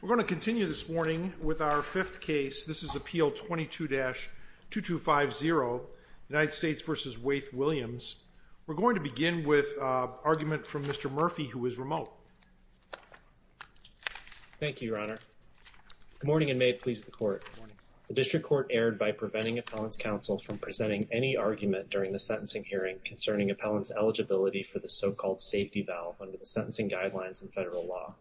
We're going to continue this morning with our fifth case. This is Appeal 22-2250, United States v. Waith Williams. We're going to begin with an argument from Mr. Murphy, who is remote. Thank you, Your Honor. Good morning and may it please the Court. The District Court erred by preventing Appellant's counsel from presenting any argument during the sentencing hearing concerning Appellant's eligibility for the so-called safety valve under the sentencing guidelines in federal law.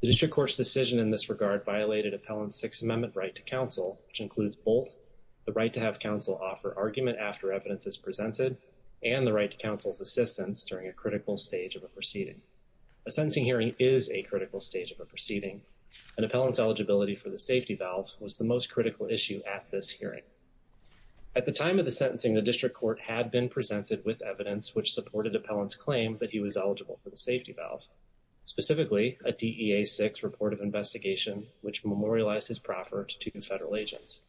The District Court's decision in this regard violated Appellant's Sixth Amendment right to counsel, which includes both the right to have counsel offer argument after evidence is presented and the right to counsel's assistance during a critical stage of a proceeding. A sentencing hearing is a critical stage of a proceeding, and Appellant's eligibility for the safety valve was the most critical issue at this hearing. At the time of the sentencing, the District Court had been presented with evidence which supported Appellant's claim that he was eligible for the safety valve, specifically a DEA-6 report of investigation which memorialized his proffer to two federal agents.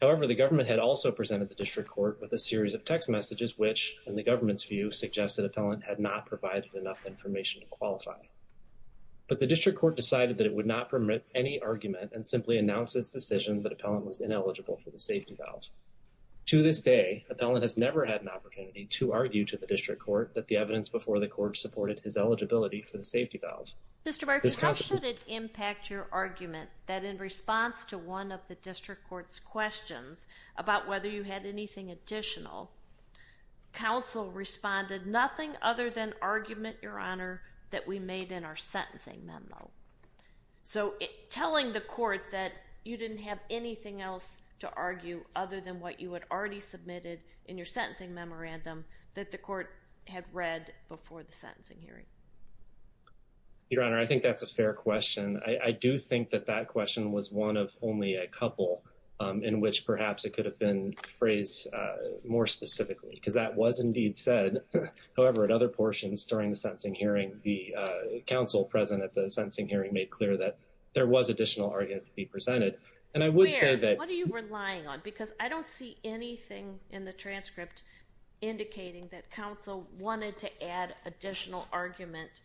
However, the government had also presented the District Court with a series of text messages which, in the government's view, suggested Appellant had not provided enough information to qualify. But the District Court decided that it would not permit any argument and simply announced its decision that Appellant was ineligible for the safety valve. To this day, Appellant has never had an opportunity to argue to the District Court that the evidence before the Court supported his eligibility for the safety valve. Mr. Barker, how should it impact your argument that in response to one of the District Court's questions about whether you had anything additional, counsel responded, nothing other than argument, Your Honor, that we made in our sentencing memo? So, telling the Court that you didn't have anything else to argue other than what you had already submitted in your sentencing memorandum that the Court had read before the sentencing hearing? Your Honor, I think that's a fair question. I do think that that question was one of only a couple in which perhaps it could have been phrased more specifically because that was indeed said. However, in other portions during the sentencing hearing, the counsel present at the sentencing hearing made clear that there was additional argument to be presented. And I would say that— Where? What are you relying on? Because I don't see anything in the transcript indicating that counsel wanted to add additional argument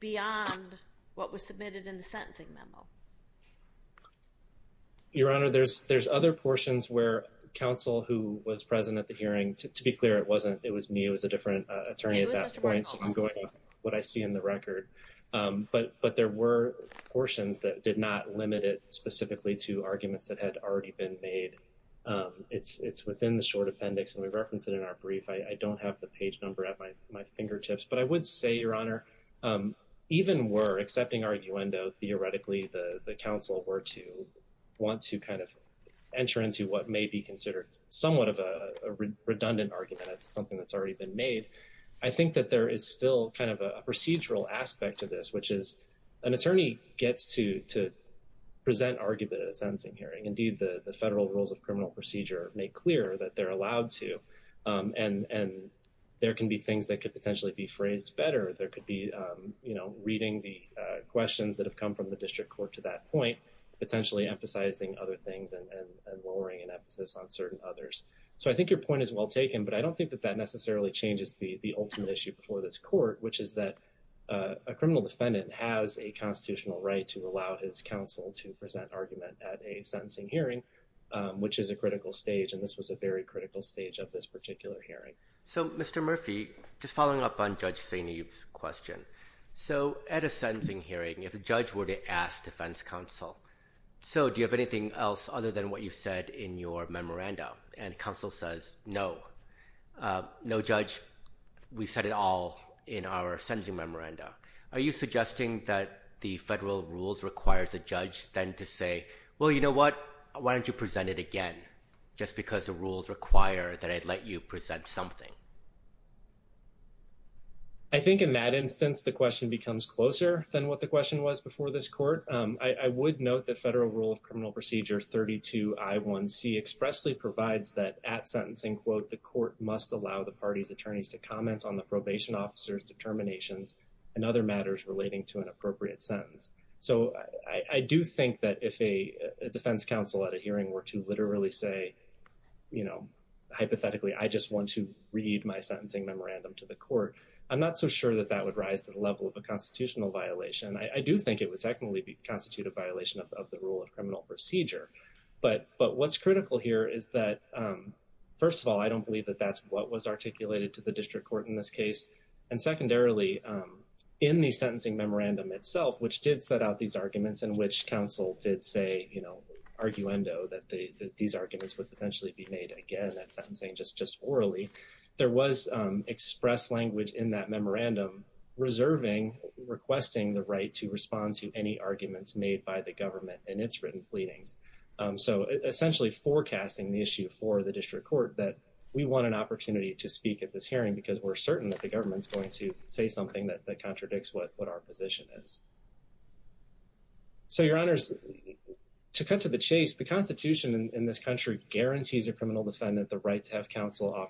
beyond what was submitted in the sentencing memo. Your Honor, there's other portions where counsel who was present at the hearing, to be clear, it wasn't—it was me. It was a different attorney at that point, so I'm going to take what I see in the record. But there were portions that did not limit it specifically to arguments that had already been made. It's within the short appendix, and we reference it in our brief. I don't have the page number at my fingertips. But I would say, Your Honor, even were—excepting arguendo—theoretically the counsel were to want to kind of enter into what may be considered somewhat of a redundant argument as to something that's already been made, I think that there is still kind of a procedural aspect to this, which is an attorney gets to present argument at a sentencing hearing. Indeed, the federal rules of criminal procedure make clear that they're allowed to. And there can be things that could potentially be phrased better. There could be, you know, reading the questions that have come from the district court to that point, potentially emphasizing other things and lowering an emphasis on certain others. So I think your point is well taken, but I don't think that that necessarily changes the ultimate issue before this court, which is that a criminal defendant has a constitutional right to allow his counsel to present argument at a sentencing hearing, which is a critical stage, and this was a very critical stage of this particular hearing. So, Mr. Murphy, just following up on Judge Saini's question, so at a sentencing hearing, if a judge were to ask defense counsel, so do you have anything else other than what you've said in your memoranda? And counsel says, no, no, Judge, we said it all in our sentencing memoranda. Are you suggesting that the federal rules requires a judge then to say, well, you know what? Why don't you present it again? Just because the rules require that I'd let you present something. I think in that instance, the question becomes closer than what the question was before this court. I would note that federal rule of criminal procedure 32I1C expressly provides that at sentencing, quote, the court must allow the party's attorneys to comment on the probation officer's determinations and other matters relating to an appropriate sentence. So I do think that if a defense counsel at a hearing were to literally say, you know, hypothetically, I just want to read my sentencing memorandum to the court, I'm not so sure that that would rise to the level of a constitutional violation. I do think it would technically constitute a violation of the rule of criminal procedure. But what's critical here is that, first of all, I don't believe that that's what was articulated to the district court in this case. And secondarily, in the sentencing memorandum itself, which did set out these arguments in which counsel did say, you know, arguendo that these arguments would potentially be made again at sentencing, just orally, there was express language in that memorandum reserving, requesting the right to respond to any arguments made by the government in its written pleadings. So essentially forecasting the issue for the district court that we want an opportunity to speak at this hearing because we're certain that the government's going to say something that contradicts what our position is. So, your honors, to cut to the chase, the Constitution in this country guarantees a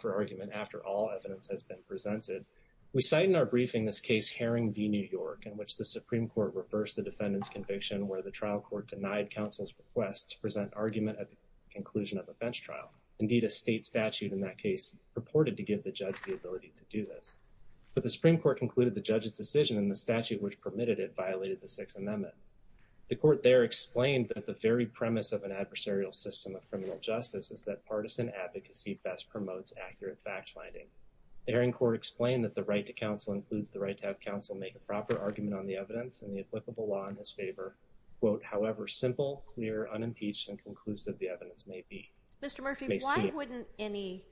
argument after all evidence has been presented. We cite in our briefing this case Herring v. New York in which the Supreme Court reversed the defendant's conviction where the trial court denied counsel's request to present argument at the conclusion of a bench trial. Indeed, a state statute in that case purported to give the judge the ability to do this. But the Supreme Court concluded the judge's decision in the statute which permitted it violated the Sixth Amendment. The court there explained that the very premise of an adversarial system of criminal justice is that partisan advocacy best promotes accurate fact finding. The hearing court explained that the right to counsel includes the right to have counsel make a proper argument on the evidence and the applicable law in his favor. Quote, however simple, clear, unimpeached, and conclusive the evidence may be. Mr. Murphy, why wouldn't any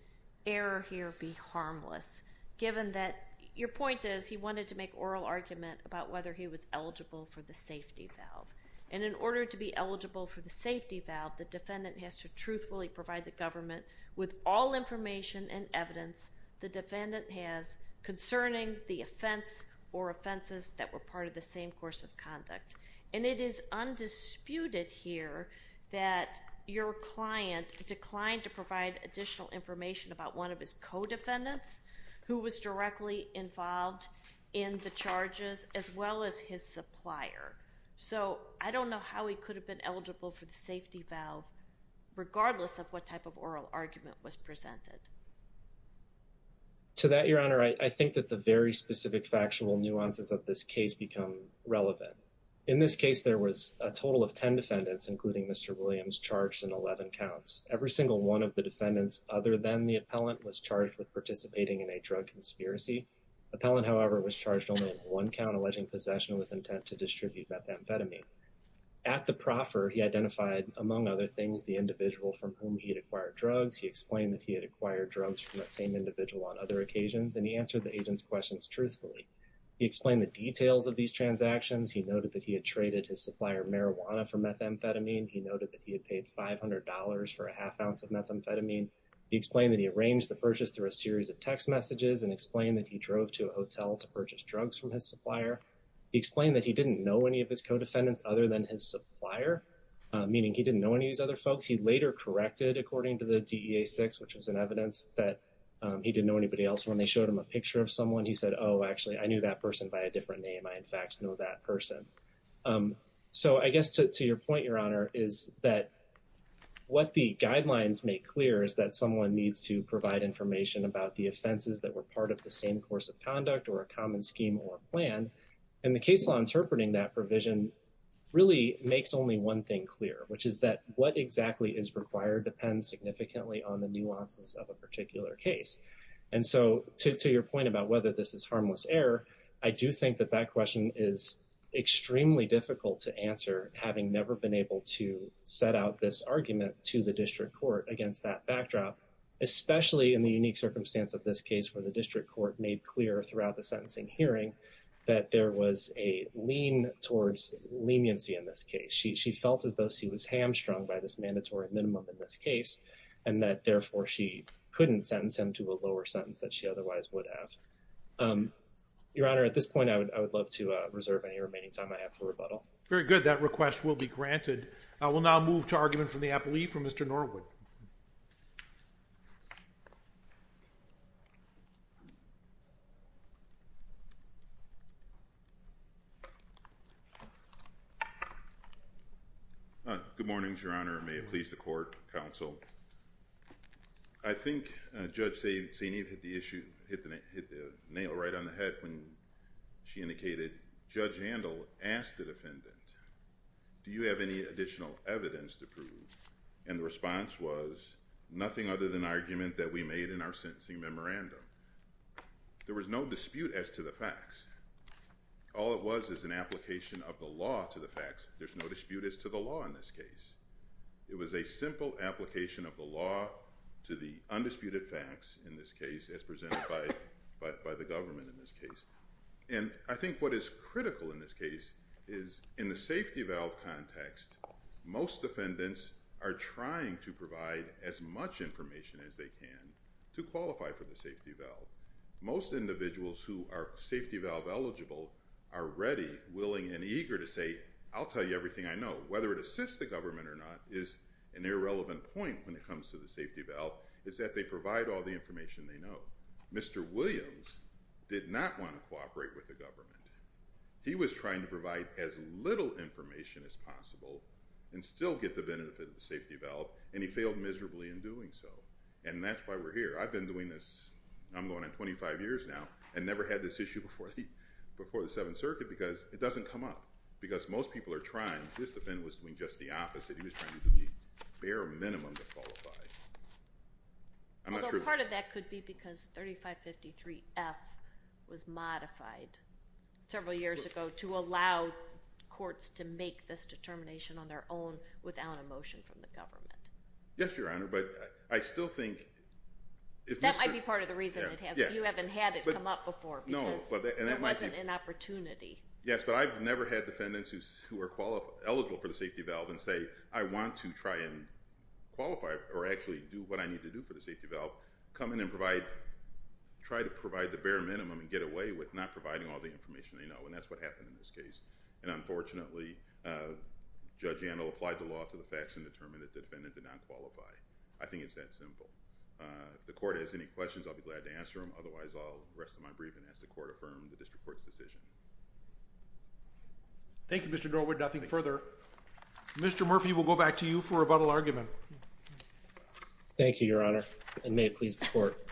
error here be harmless given that your point is he wanted to make oral argument about whether he was eligible for the safety valve. And in order to be eligible for the safety valve, the defendant has to truthfully provide the government with all information and evidence the defendant has concerning the offense or offenses that were part of the same course of conduct. And it is undisputed here that your client declined to provide additional information about one of his co-defendants who was directly involved in the charges as well as his supplier. So I don't know how he could have been eligible for the safety valve regardless of what type of oral argument was presented. To that, Your Honor, I think that the very specific factual nuances of this case become relevant. In this case, there was a total of 10 defendants, including Mr. Williams, charged in 11 counts. Every single one of the defendants other than the appellant was charged with participating in a drug conspiracy. Appellant, however, was charged only in one count alleging possession with intent to distribute methamphetamine. At the proffer, he identified, among other things, the individual from whom he had acquired drugs. He explained that he had acquired drugs from that same individual on other occasions, and he answered the agent's questions truthfully. He explained the details of these transactions. He noted that he had traded his supplier marijuana for methamphetamine. He noted that he had paid $500 for a half ounce of methamphetamine. He explained that he arranged the purchase through a series of text messages and explained that he drove to a hotel to purchase drugs from his supplier. He explained that he didn't know any of his co-defendants other than his supplier, meaning he didn't know any of these other folks. He later corrected according to the DEA-6, which was an evidence that he didn't know anybody else. When they showed him a picture of someone, he said, oh, actually, I knew that person by a different name. I, in fact, know that person. So I guess to your point, Your Honor, is that what the guidelines make clear is that someone needs to provide information about the offenses that were part of the same course of conduct or a common scheme or plan. And the case law interpreting that provision really makes only one thing clear, which is that what exactly is required depends significantly on the nuances of a particular case. And so to your point about whether this is harmless error, I do think that question is extremely difficult to answer, having never been able to set out this argument to the district court against that backdrop, especially in the unique circumstance of this case where the district court made clear throughout the sentencing hearing that there was a lean towards leniency in this case. She felt as though she was hamstrung by this mandatory minimum in this case and that therefore she couldn't sentence him to a lower sentence that she otherwise would have. Your Honor, at this point, I would love to reserve any remaining time I have for rebuttal. Very good. That request will be granted. I will now move to argument from the appellee, from Mr. Norwood. Good morning, Your Honor. May it please the court, counsel. I think Judge Saineev hit the issue, hit the nail right on the head when she indicated, Judge Handel asked the defendant, do you have any additional evidence to prove? And the response was nothing other than argument that we made in our sentencing memorandum. There was no dispute as to the facts. All it was is an application of the law to the facts. There's no dispute as to the law in this case. It was a simple application of the law to the undisputed facts in this case as presented by the government in this case. And I think what is critical in this case is in the safety valve context, most defendants are trying to provide as much information as they can to qualify for the safety valve. Most individuals who are safety valve eligible are ready, willing, and eager to say, I'll tell you everything I know. Whether it assists the government or not is an irrelevant point when it comes to the safety valve, is that they provide all the information they know. Mr. Williams did not want to cooperate with the government. He was trying to provide as little information as possible and still get the benefit of the safety valve, and he failed miserably in doing so. And that's why we're here. I've been doing this, I'm going on 25 years now, and never had this issue before the Seventh Circuit because it doesn't come up. Because most people are trying. This defendant was doing just the opposite. He was trying to do the bare minimum to qualify. Although part of that could be because 3553F was modified several years ago to allow courts to make this determination on their own without a motion from the government. Yes, Your Honor, but I still think... That might be part of the reason. You haven't had it come up before because there wasn't an opportunity. Yes, but I've never had defendants who are eligible for the safety valve and say, I want to try and qualify or actually do what I need to do for the safety valve, come in and try to provide the bare minimum and get away with not providing all the information they know, and that's what happened in this case. And unfortunately, Judge Antle applied the law to the facts and determined that the defendant did not qualify. I think it's that simple. If the court has any questions, I'll be glad to answer them. Otherwise, I'll rest of my briefing as the court affirmed the district court's decision. Thank you, Mr. Norwood. Nothing further. Mr. Murphy, we'll go back to you for a rebuttal argument. Thank you, Your Honor, and may it please the court.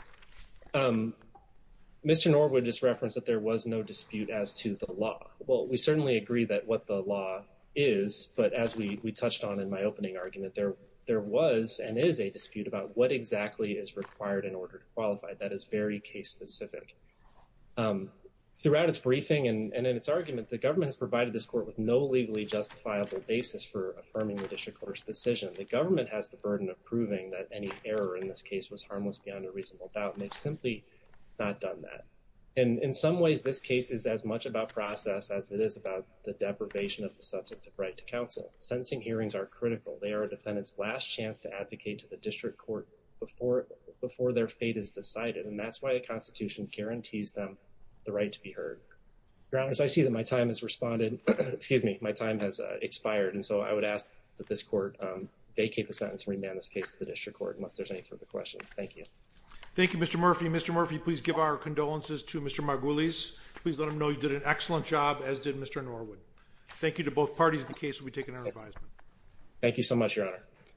Mr. Norwood just referenced that there was no dispute as to the law. Well, we certainly agree that what the law is, but as we touched on in my opening argument, there was and is a dispute about what exactly is required in order to qualify. That is very case specific. Throughout its briefing and in its argument, the government has provided this court with no legally justifiable basis for affirming the district court's decision. The government has the burden of proving that any error in this case was harmless beyond a reasonable doubt, and they've simply not done that. In some ways, this case is as much about process as it is about the deprivation of the substantive right to counsel. Sentencing hearings are critical. They are a defendant's last chance to advocate to the district court before their fate is decided, and that's why a constitution guarantees them the right to be heard. Your Honors, I see that my time has expired, and so I would ask that this court vacate the sentence and remand this case to the district court unless there's any further questions. Thank you. Thank you, Mr. Murphy. Please give our condolences to Mr. Margulies. Please let him know you did an excellent job, as did Mr. Norwood. Thank you to both parties. The case will be taken under advisement. Thank you so much, Your Honor.